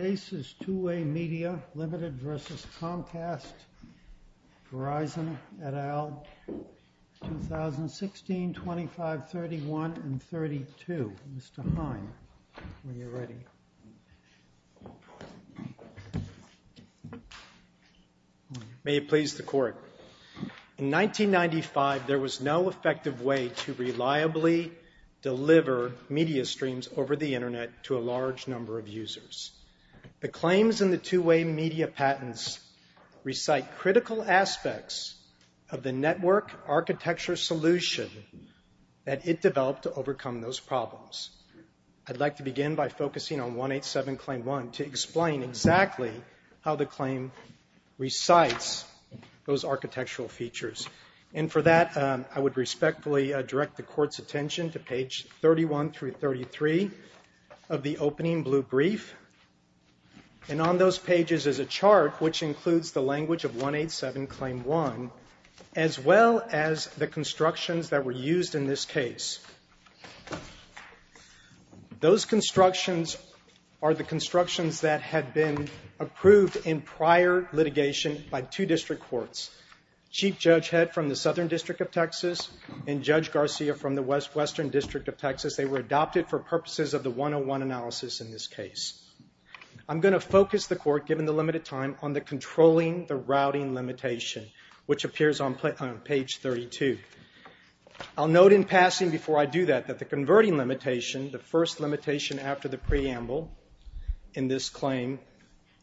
Case is Two-Way Media Ltd. v. Comcast, Verizon, et al., 2016, 25, 31, and 32. Mr. Hine, when you're ready. May it please the Court. In 1995, there was no effective way to reliably deliver media streams over the Internet to a large number of users. The claims in the Two-Way Media patents recite critical aspects of the network architecture solution that it developed to overcome those problems. I'd like to begin by focusing on 187 Claim 1 to explain exactly how the claim recites those architectural features. And for that, I would respectfully direct the Court's attention to page 31 through 33 of the opening blue brief. And on those pages is a chart which includes the language of 187 Claim 1, as well as the constructions that were used in this case. Those constructions are the constructions that had been approved in prior litigation by two district courts. Chief Judge Head from the Southern District of Texas and Judge Garcia from the Western District of Texas. They were adopted for purposes of the 101 analysis in this case. I'm going to focus the Court, given the limited time, on the controlling the routing limitation, which appears on page 32. I'll note in passing before I do that that the converting limitation, the first limitation after the preamble in this claim,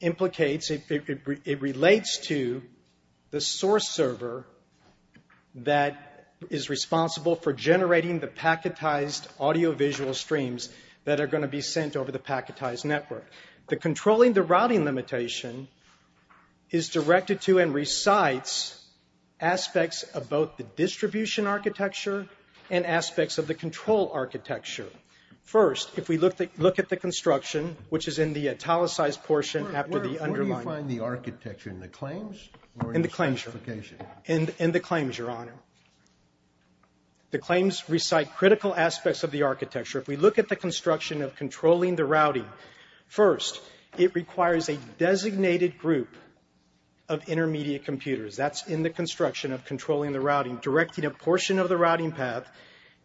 implicates, it relates to the source server that is responsible for generating the packetized audiovisual streams that are going to be sent over the packetized network. The controlling the routing limitation is directed to and recites aspects of both the distribution architecture and aspects of the control architecture. First, if we look at the construction, which is in the italicized portion after the underlying. Where do you find the architecture? In the claims? In the claims, Your Honor. The claims recite critical aspects of the architecture. If we look at the construction of controlling the routing, first, it requires a designated group of intermediate computers. That's in the construction of controlling the routing. Directing a portion of the routing path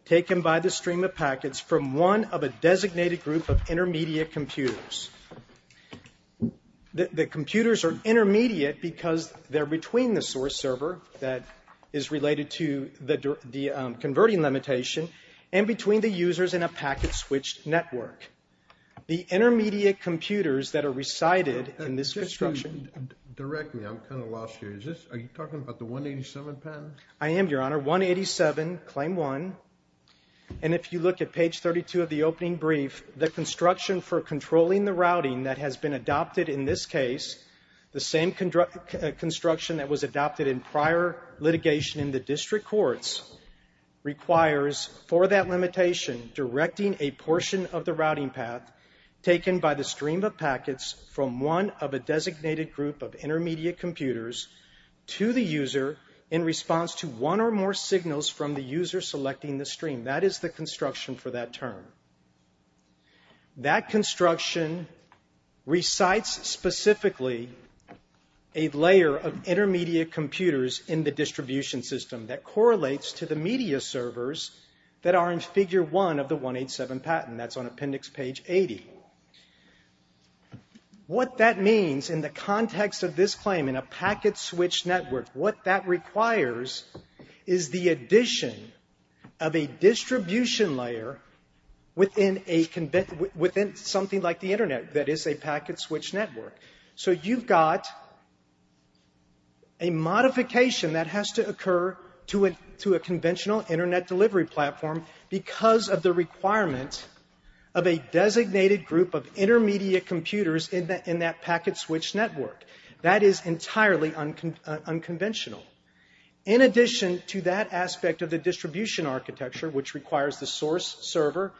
taken by the stream of packets from one of a designated group of intermediate computers. The computers are intermediate because they're between the source server that is related to the converting limitation and between the users in a packet switched network. The intermediate computers that are recited in this construction. Can you direct me? I'm kind of lost here. Are you talking about the 187 patent? I am, Your Honor. 187, claim one. And if you look at page 32 of the opening brief, the construction for controlling the routing that has been adopted in this case, the same construction that was adopted in prior litigation in the district courts, requires for that limitation directing a portion of the routing path taken by the stream of packets from one of a designated group of intermediate computers to the user in response to one or more signals from the user selecting the stream. That is the construction for that term. That construction recites specifically a layer of intermediate computers in the distribution system that correlates to the media servers that are in figure one of the 187 patent. That's on appendix page 80. What that means in the context of this claim in a packet switched network, what that requires is the addition of a distribution layer within something like the Internet that is a packet switched network. So you've got a modification that has to occur to a conventional Internet delivery platform because of the requirement of a designated group of intermediate computers in that packet switched network. That is entirely unconventional. In addition to that aspect of the distribution architecture, which requires the source server,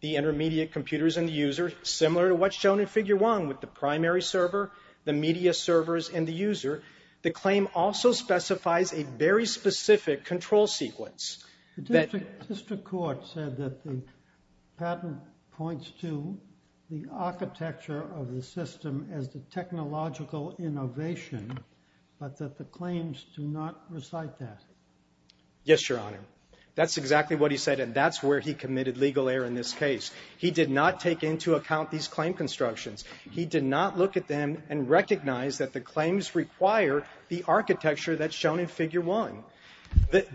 the intermediate computers and the user, similar to what's shown in figure one with the primary server, the media servers and the user, the claim also specifies a very specific control sequence. The district court said that the patent points to the architecture of the system as the technological innovation, but that the claims do not recite that. Yes, Your Honor. That's exactly what he said, and that's where he committed legal error in this case. He did not take into account these claim constructions. He did not look at them and recognize that the claims require the architecture that's shown in figure one.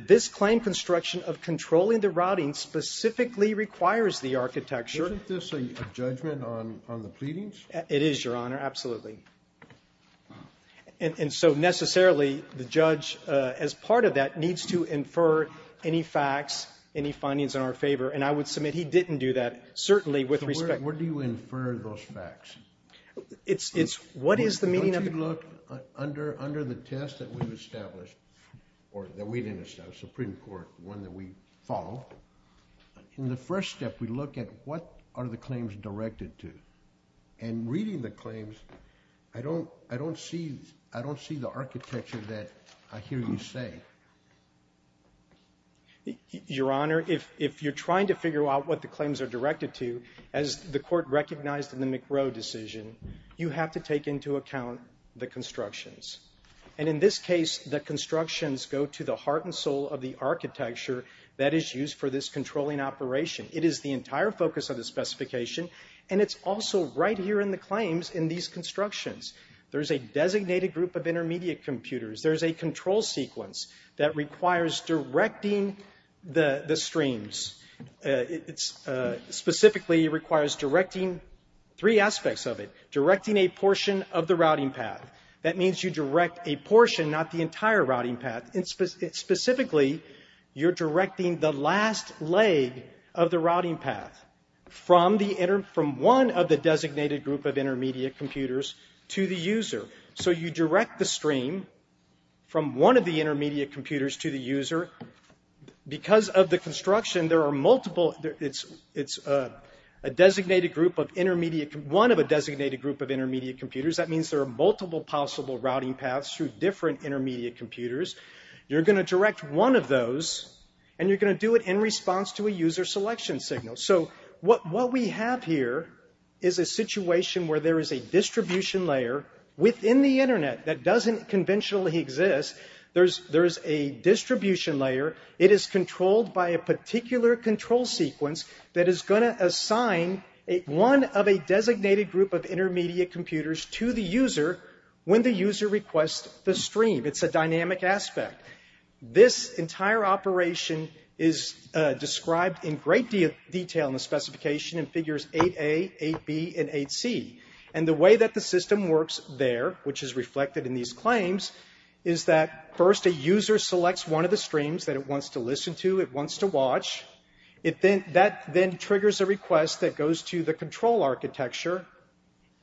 This claim construction of controlling the routing specifically requires the architecture. Isn't this a judgment on the pleadings? It is, Your Honor, absolutely. And so necessarily, the judge, as part of that, needs to infer any facts, any findings in our favor, and I would submit he didn't do that, certainly with respect. Where do you infer those facts? Don't you look under the test that we've established, or that we didn't establish, Supreme Court, one that we follow. In the first step, we look at what are the claims directed to, and reading the claims, I don't see the architecture that I hear you say. Your Honor, if you're trying to figure out what the claims are directed to, as the Court recognized in the McRow decision, you have to take into account the constructions. And in this case, the constructions go to the heart and soul of the architecture that is used for this controlling operation. It is the entire focus of the specification, and it's also right here in the claims in these constructions. There's a designated group of intermediate computers. There's a control sequence that requires directing the streams. It specifically requires directing three aspects of it. Directing a portion of the routing path. That means you direct a portion, not the entire routing path. Specifically, you're directing the last leg of the routing path from one of the designated group of intermediate computers to the user. So you direct the stream from one of the intermediate computers to the user. Because of the construction, there are multiple. It's one of a designated group of intermediate computers. That means there are multiple possible routing paths through different intermediate computers. You're going to direct one of those, and you're going to do it in response to a user selection signal. So what we have here is a situation where there is a distribution layer within the Internet that doesn't conventionally exist. There is a distribution layer. It is controlled by a particular control sequence that is going to assign one of a designated group of intermediate computers to the user when the user requests the stream. It's a dynamic aspect. This entire operation is described in great detail in the specification in figures 8a, 8b, and 8c. And the way that the system works there, which is reflected in these claims, is that first a user selects one of the streams that it wants to listen to, it wants to watch. That then triggers a request that goes to the control architecture.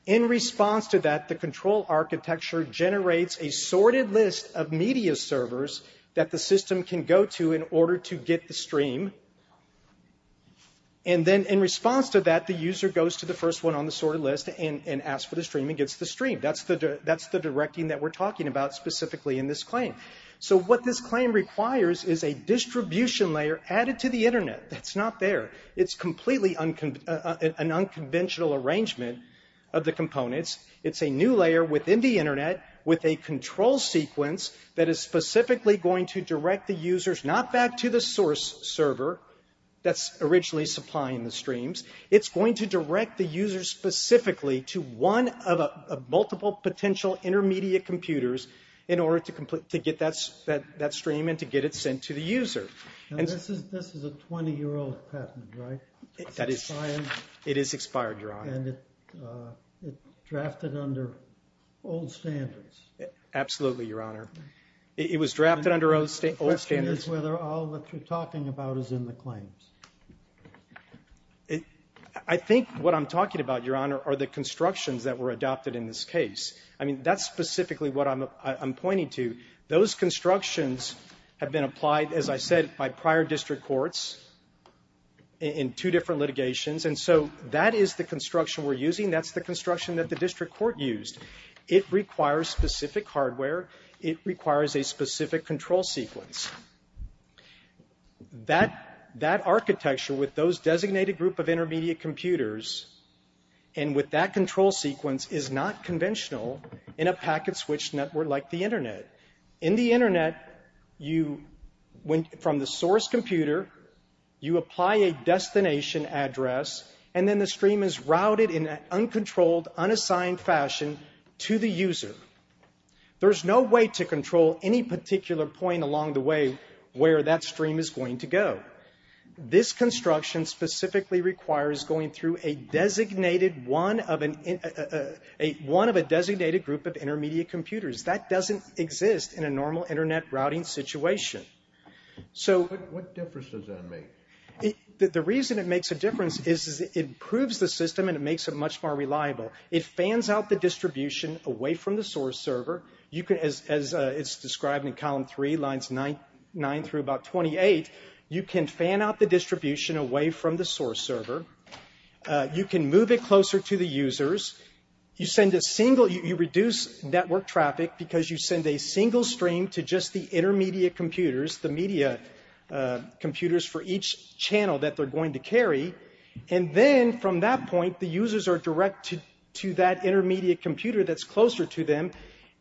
In response to that, the control architecture generates a sorted list of media servers that the system can go to in order to get the stream. And then in response to that, the user goes to the first one on the sorted list and asks for the stream and gets the stream. That's the directing that we're talking about specifically in this claim. So what this claim requires is a distribution layer added to the Internet that's not there. It's completely an unconventional arrangement of the components. It's a new layer within the Internet with a control sequence that is specifically going to direct the users not back to the source server that's originally supplying the streams. It's going to direct the users specifically to one of multiple potential intermediate computers in order to get that stream and to get it sent to the user. This is a 20-year-old patent, right? It is expired, Your Honor. And it's drafted under old standards. Absolutely, Your Honor. It was drafted under old standards. The question is whether all that you're talking about is in the claims. I think what I'm talking about, Your Honor, are the constructions that were adopted in this case. I mean, that's specifically what I'm pointing to. Those constructions have been applied, as I said, by prior district courts in two different litigations. And so that is the construction we're using. That's the construction that the district court used. It requires specific hardware. It requires a specific control sequence. That architecture with those designated group of intermediate computers and with that control sequence is not conventional in a packet switch network like the Internet. In the Internet, from the source computer, you apply a destination address, and then the stream is routed in an uncontrolled, unassigned fashion to the user. There's no way to control any particular point along the way where that stream is going to go. This construction specifically requires going through one of a designated group of intermediate computers. That doesn't exist in a normal Internet routing situation. What difference does that make? The reason it makes a difference is it improves the system, and it makes it much more reliable. It fans out the distribution away from the source server. As it's described in Column 3, Lines 9 through about 28, you can fan out the distribution away from the source server. You can move it closer to the users. You reduce network traffic because you send a single stream to just the intermediate computers, the media computers for each channel that they're going to carry. And then from that point, the users are directed to that intermediate computer that's closer to them.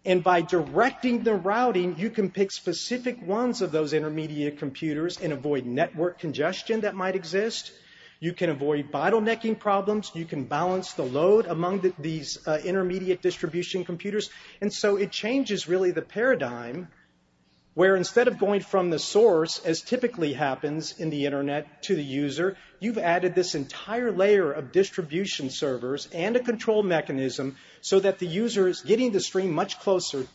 And by directing the routing, you can pick specific ones of those intermediate computers and avoid network congestion that might exist. You can avoid bottlenecking problems. You can balance the load among these intermediate distribution computers. And so it changes, really, the paradigm where instead of going from the source, as typically happens in the Internet, to the user, you've added this entire layer of distribution servers and a control mechanism so that the user is getting the stream much closer.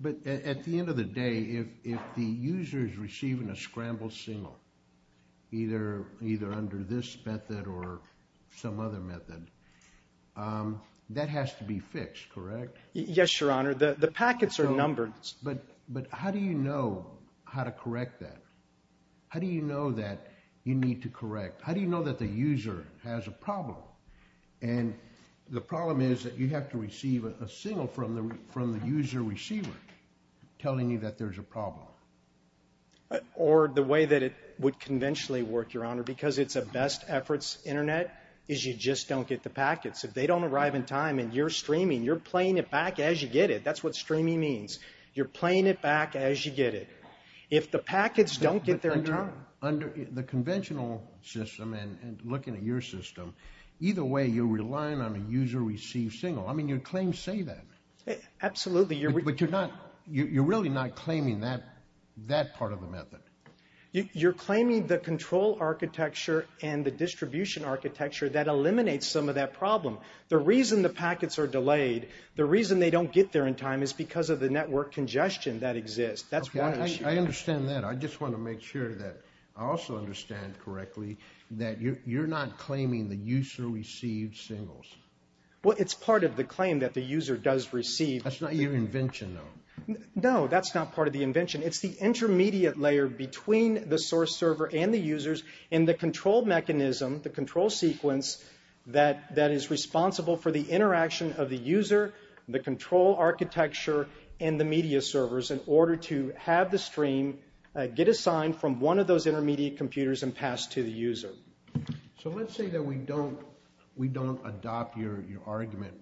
But at the end of the day, if the user is receiving a scrambled single, either under this method or some other method, that has to be fixed, correct? Yes, Your Honor. The packets are numbered. But how do you know how to correct that? How do you know that you need to correct? How do you know that the user has a problem? And the problem is that you have to receive a single from the user receiver telling you that there's a problem. Or the way that it would conventionally work, Your Honor, because it's a best efforts Internet, is you just don't get the packets. If they don't arrive in time and you're streaming, you're playing it back as you get it. That's what streaming means. You're playing it back as you get it. If the packets don't get there in time... The conventional system and looking at your system, either way you're relying on a user receive single. I mean, your claims say that. Absolutely. But you're really not claiming that part of the method. You're claiming the control architecture and the distribution architecture that eliminates some of that problem. The reason the packets are delayed, the reason they don't get there in time, is because of the network congestion that exists. That's one issue. I understand that. I just want to make sure that I also understand correctly that you're not claiming the user received singles. Well, it's part of the claim that the user does receive. That's not your invention, though. No, that's not part of the invention. It's the intermediate layer between the source server and the users in the control mechanism, the control sequence, that is responsible for the interaction of the user, the control architecture, and the media servers in order to have the stream get assigned from one of those intermediate computers and pass to the user. So let's say that we don't adopt your argument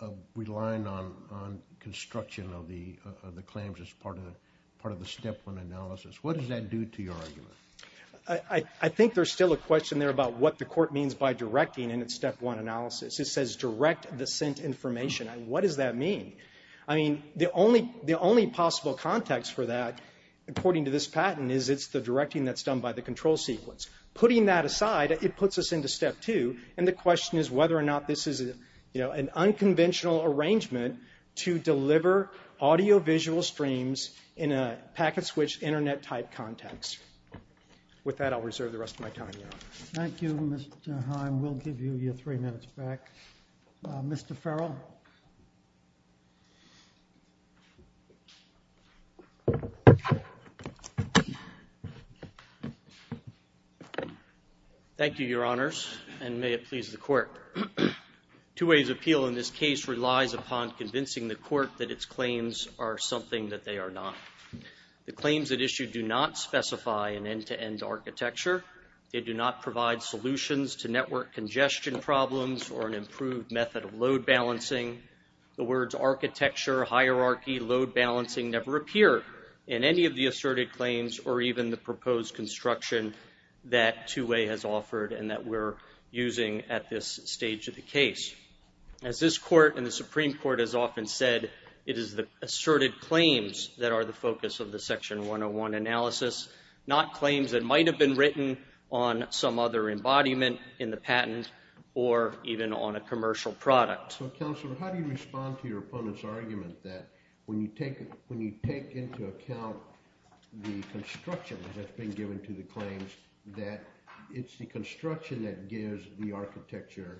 of relying on construction of the claims as part of the Step 1 analysis. What does that do to your argument? I think there's still a question there about what the court means by directing in its Step 1 analysis. It says direct the sent information. What does that mean? I mean, the only possible context for that, according to this patent, is it's the directing that's done by the control sequence. Putting that aside, it puts us into Step 2, and the question is whether or not this is an unconventional arrangement to deliver audio-visual streams in a packet-switched Internet-type context. With that, I'll reserve the rest of my time. Thank you, Mr. Heim. We'll give you your three minutes back. Mr. Farrell. Thank you, Your Honors, and may it please the court. Two-way's appeal in this case relies upon convincing the court that its claims are something that they are not. The claims at issue do not specify an end-to-end architecture. They do not provide solutions to network congestion problems or an improved method of load balancing. The words architecture, hierarchy, load balancing never appear in any of the asserted claims or even the proposed construction that Two-way has offered and that we're using at this stage of the case. As this court and the Supreme Court has often said, it is the asserted claims that are the focus of the Section 101 analysis, not claims that might have been written on some other embodiment in the patent or even on a commercial product. So, Counselor, how do you respond to your opponent's argument that when you take into account the construction that's been given to the claims that it's the construction that gives the architecture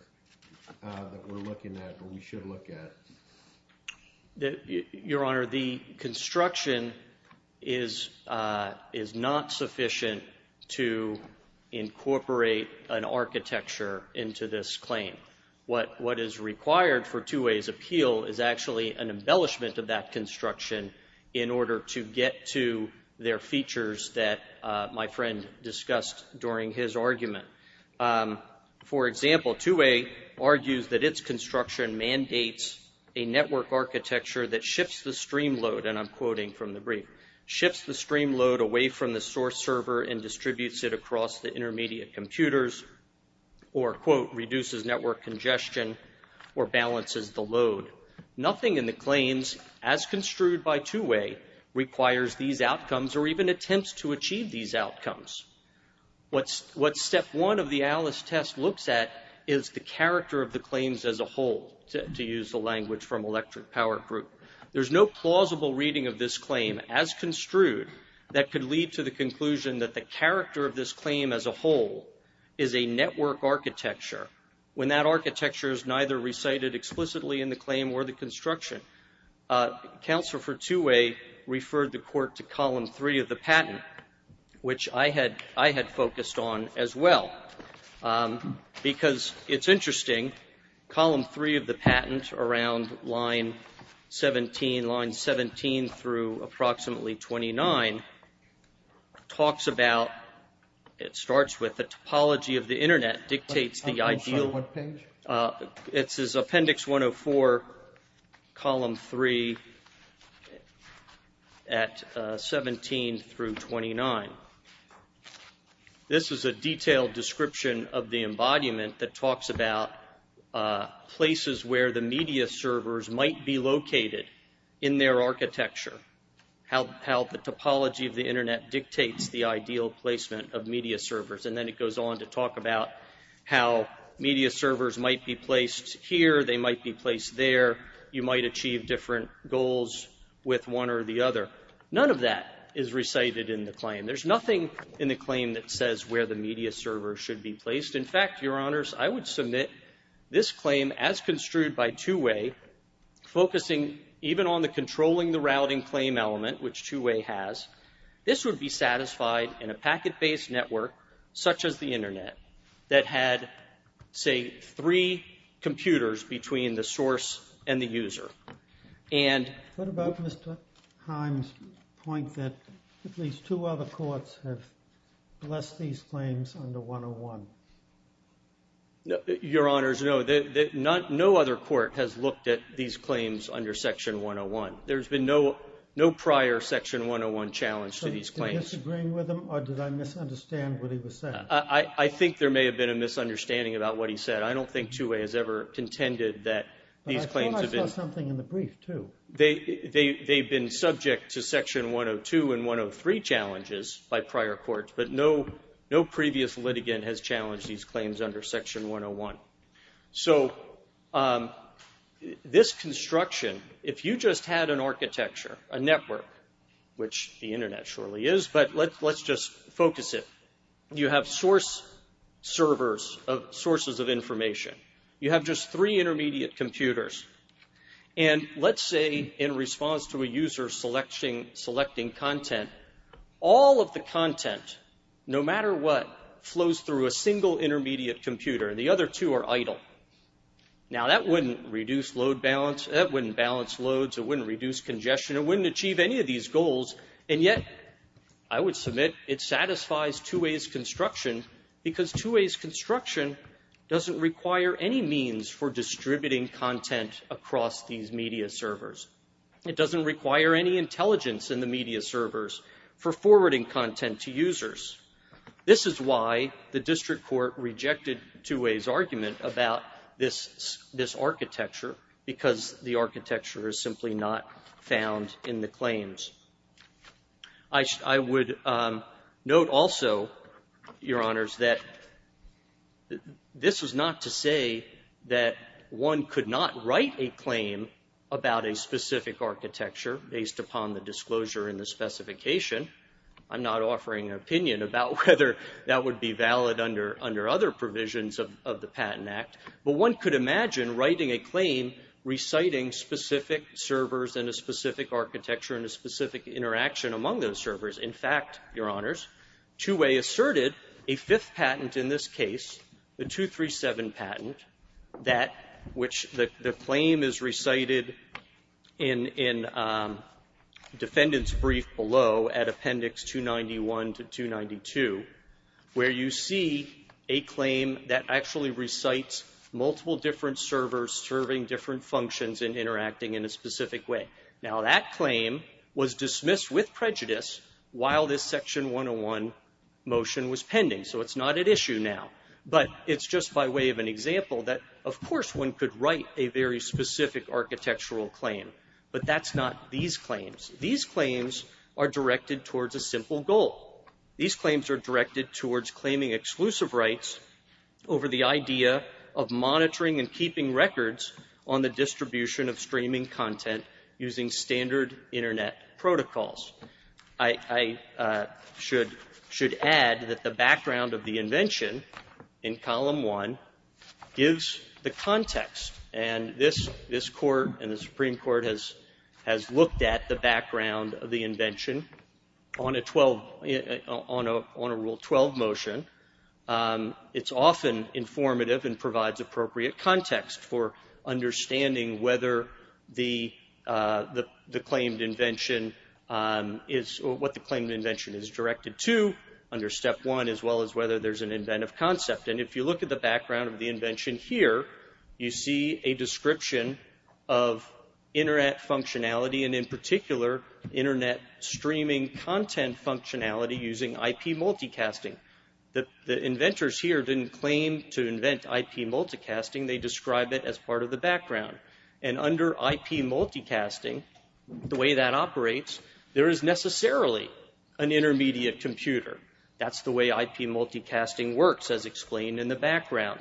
that we're looking at or we should look at? Your Honor, the construction is not sufficient to incorporate an architecture into this claim. What is required for Two-way's appeal is actually an embellishment of that construction in order to get to their features that my friend discussed during his argument. For example, Two-way argues that its construction mandates a network architecture that shifts the stream load, and I'm quoting from the brief, shifts the stream load away from the source server and distributes it across the intermediate computers or, quote, reduces network congestion or balances the load. Nothing in the claims as construed by Two-way requires these outcomes or even attempts to achieve these outcomes. What step one of the Alice test looks at is the character of the claims as a whole, to use the language from Electric Power Group. There's no plausible reading of this claim as construed that could lead to the conclusion that the character of this claim as a whole is a network architecture when that architecture is neither recited explicitly in the claim or the construction. Counsel for Two-way referred the court to column three of the patent, which I had focused on as well, because it's interesting, column three of the patent around line 17, line 17 through approximately 29, talks about, it starts with the topology of the Internet dictates the ideal. I'm sorry, what page? It's appendix 104, column three at 17 through 29. This is a detailed description of the embodiment that talks about places where the media servers might be located in their architecture, how the topology of the Internet dictates the ideal placement of media servers, and then it goes on to talk about how media servers might be placed here, they might be placed there, you might achieve different goals with one or the other. None of that is recited in the claim. There's nothing in the claim that says where the media server should be placed. In fact, Your Honors, I would submit this claim as construed by Two-way, focusing even on the controlling the routing claim element, which Two-way has, this would be satisfied in a packet-based network, such as the Internet, that had, say, three computers between the source and the user. What about Mr. Himes' point that at least two other courts have blessed these claims under 101? Your Honors, no. No other court has looked at these claims under Section 101. There's been no prior Section 101 challenge to these claims. Did you disagree with him, or did I misunderstand what he was saying? I think there may have been a misunderstanding about what he said. I don't think Two-way has ever contended that these claims have been— But I thought I saw something in the brief, too. They've been subject to Section 102 and 103 challenges by prior courts, but no previous litigant has challenged these claims under Section 101. So this construction, if you just had an architecture, a network, which the Internet surely is, but let's just focus it. You have source servers, sources of information. You have just three intermediate computers, and let's say in response to a user selecting content, all of the content, no matter what, flows through a single intermediate computer. The other two are idle. Now that wouldn't reduce load balance, that wouldn't balance loads, it wouldn't reduce congestion, it wouldn't achieve any of these goals, and yet I would submit it satisfies Two-way's construction because Two-way's construction doesn't require any means for distributing content across these media servers. It doesn't require any intelligence in the media servers for forwarding content to users. This is why the district court rejected Two-way's argument about this architecture because the architecture is simply not found in the claims. I would note also, Your Honors, that this was not to say that one could not write a claim about a specific architecture based upon the disclosure and the specification. I'm not offering an opinion about whether that would be valid under other provisions of the Patent Act, but one could imagine writing a claim reciting specific servers and a specific architecture and a specific interaction among those servers. In fact, Your Honors, Two-way asserted a fifth patent in this case, the 237 patent, which the claim is recited in defendant's brief below at Appendix 291 to 292, where you see a claim that actually recites multiple different servers serving different functions and interacting in a specific way. Now that claim was dismissed with prejudice while this Section 101 motion was pending, so it's not at issue now, but it's just by way of an example that, of course, one could write a very specific architectural claim, but that's not these claims. These claims are directed towards a simple goal. These claims are directed towards claiming exclusive rights over the idea of monitoring and keeping records on the distribution of streaming content using standard Internet protocols. I should add that the background of the invention in Column 1 gives the context, and this Court and the Supreme Court has looked at the background of the invention on a Rule 12 motion. It's often informative and provides appropriate context for understanding what the claimed invention is directed to under Step 1, as well as whether there's an inventive concept. And if you look at the background of the invention here, you see a description of Internet functionality, and in particular Internet streaming content functionality using IP multicasting. The inventors here didn't claim to invent IP multicasting. They described it as part of the background. And under IP multicasting, the way that operates, there is necessarily an intermediate computer. That's the way IP multicasting works, as explained in the background.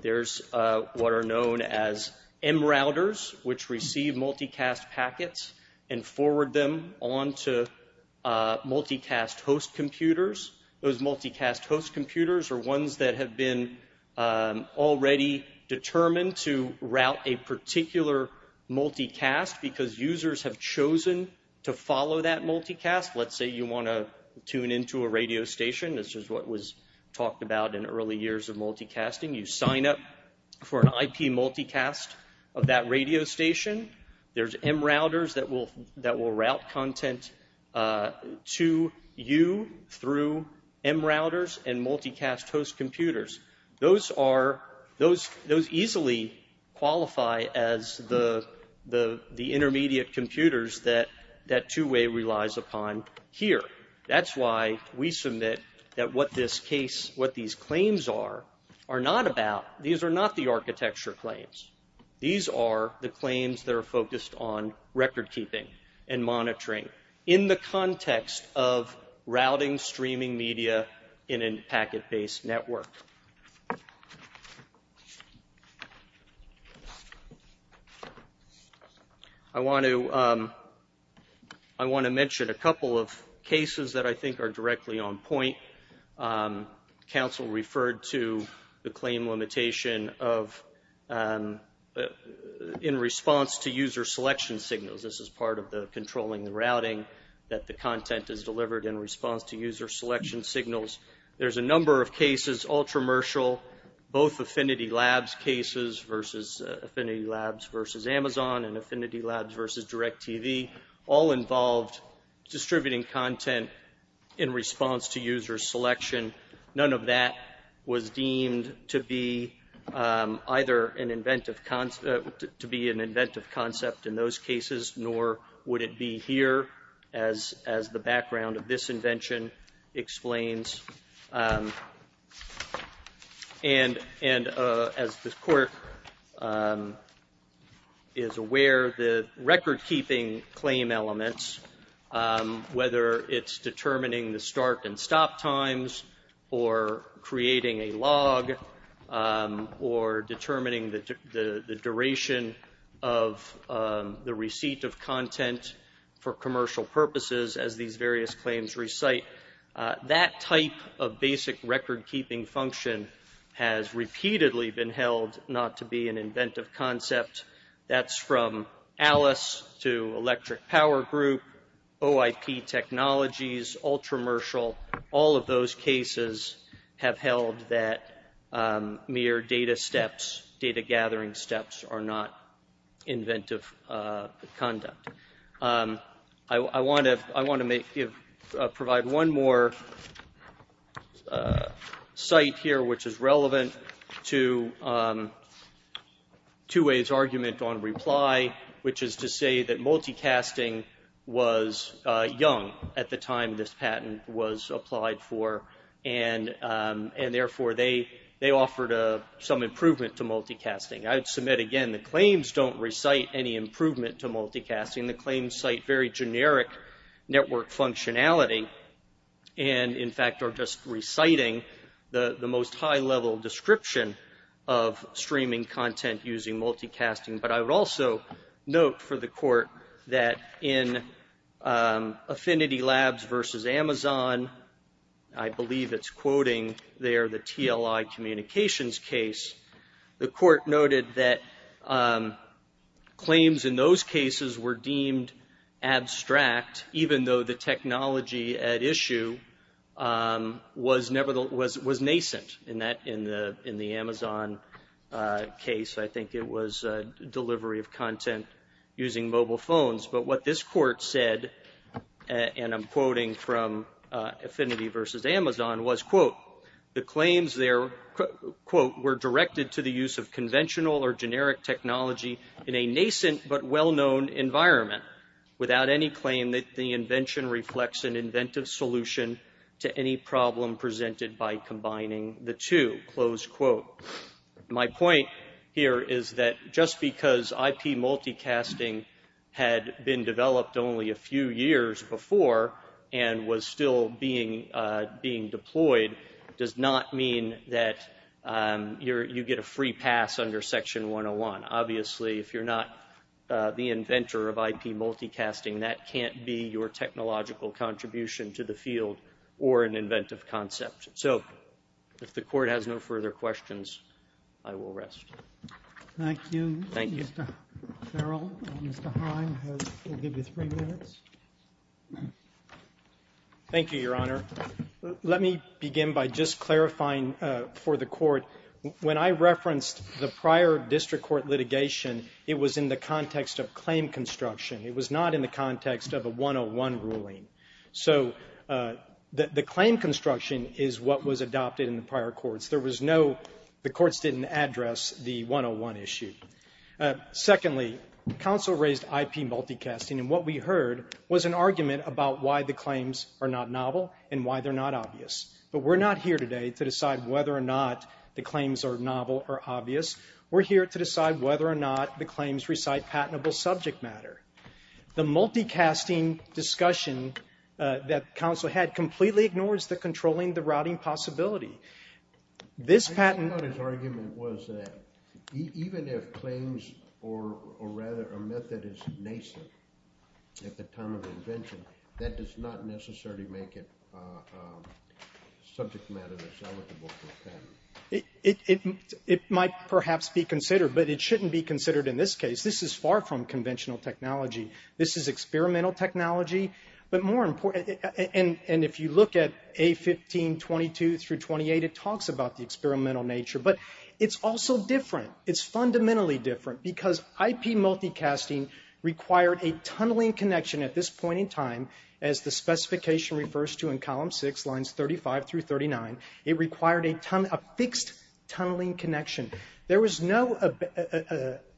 There's what are known as M routers, which receive multicast packets and forward them on to multicast host computers. Those multicast host computers are ones that have been already determined to route a particular multicast because users have chosen to follow that multicast. Let's say you want to tune into a radio station. This is what was talked about in early years of multicasting. You sign up for an IP multicast of that radio station. There's M routers that will route content to you through M routers and multicast host computers. Those easily qualify as the intermediate computers that two-way relies upon here. That's why we submit that what these claims are not about, these are not the architecture claims. These are the claims that are focused on record-keeping and monitoring in the context of routing streaming media in a packet-based network. I want to mention a couple of cases that I think are directly on point. Council referred to the claim limitation in response to user selection signals. This is part of the controlling the routing that the content is delivered in response to user selection signals. There's a number of cases, all commercial. Both Affinity Labs cases versus Amazon and Affinity Labs versus DirecTV all involved distributing content in response to user selection. None of that was deemed to be either an inventive concept in those cases, nor would it be here as the background of this invention explains. As the court is aware, the record-keeping claim elements, whether it's determining the start and stop times or creating a log or determining the duration of the receipt of content for commercial purposes as these various claims recite, that type of basic record-keeping function has repeatedly been held not to be an inventive concept. That's from Alice to Electric Power Group, OIP Technologies, Ultramershal. All of those cases have held that mere data steps, data-gathering steps are not inventive conduct. I want to provide one more site here which is relevant to Two Way's argument on reply, which is to say that multicasting was young at the time this patent was applied for, and therefore they offered some improvement to multicasting. I would submit again the claims don't recite any improvement to multicasting. The claims cite very generic network functionality, and in fact are just reciting the most high-level description of streaming content using multicasting. But I would also note for the court that in Affinity Labs versus Amazon, I believe it's quoting there the TLI Communications case, the court noted that claims in those cases were deemed abstract, even though the technology at issue was nascent in the Amazon case. I think it was delivery of content using mobile phones. But what this court said, and I'm quoting from Affinity versus Amazon, was, quote, the claims there, quote, were directed to the use of conventional or generic technology in a nascent but well-known environment without any claim that the invention reflects an inventive solution to any problem presented by combining the two, close quote. My point here is that just because IP multicasting had been developed only a few years before and was still being deployed does not mean that you get a free pass under Section 101. Obviously, if you're not the inventor of IP multicasting, that can't be your technological contribution to the field or an inventive concept. So if the court has no further questions, I will rest. Thank you, Mr. Farrell. Mr. Heim will give you three minutes. Thank you, Your Honor. Let me begin by just clarifying for the court, when I referenced the prior district court litigation, it was in the context of claim construction. It was not in the context of a 101 ruling. So the claim construction is what was adopted in the prior courts. The courts didn't address the 101 issue. Secondly, counsel raised IP multicasting, and what we heard was an argument about why the claims are not novel and why they're not obvious. But we're not here today to decide whether or not the claims are novel or obvious. We're here to decide whether or not the claims recite patentable subject matter. The multicasting discussion that counsel had completely ignores the controlling the routing possibility. This patent... His argument was that even if claims or rather a method is nascent at the time of invention, that does not necessarily make it subject matter that's eligible for a patent. It might perhaps be considered, but it shouldn't be considered in this case. This is far from conventional technology. This is experimental technology. But more important... And if you look at A1522 through 28, it talks about the experimental nature. But it's also different. It's fundamentally different because IP multicasting required a tunneling connection at this point in time, as the specification refers to in column 6, lines 35 through 39. It required a fixed tunneling connection. There was no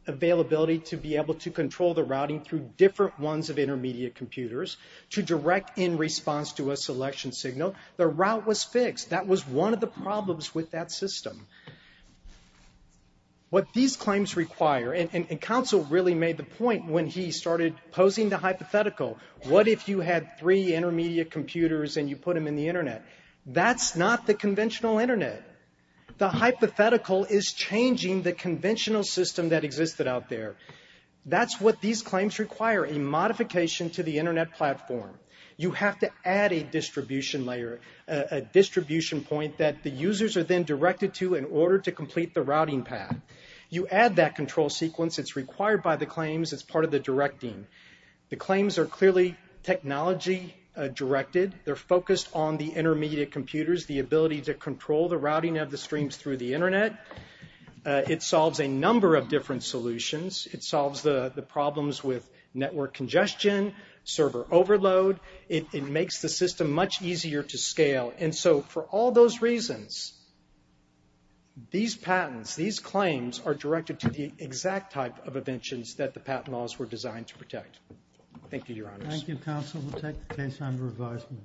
availability to be able to control the routing through different ones of intermediate computers to direct in response to a selection signal. The route was fixed. That was one of the problems with that system. What these claims require... And counsel really made the point when he started posing the hypothetical. What if you had three intermediate computers and you put them in the Internet? That's not the conventional Internet. The hypothetical is changing the conventional system that existed out there. That's what these claims require, a modification to the Internet platform. You have to add a distribution layer, a distribution point that the users are then directed to in order to complete the routing path. You add that control sequence. It's required by the claims. It's part of the directing. The claims are clearly technology-directed. They're focused on the intermediate computers, the ability to control the routing of the streams through the Internet. It solves a number of different solutions. It solves the problems with network congestion, server overload. It makes the system much easier to scale. And so for all those reasons, these patents, these claims, are directed to the exact type of inventions that the patent laws were designed to protect. Thank you, Your Honors. Thank you, counsel. We'll take the case under advisement.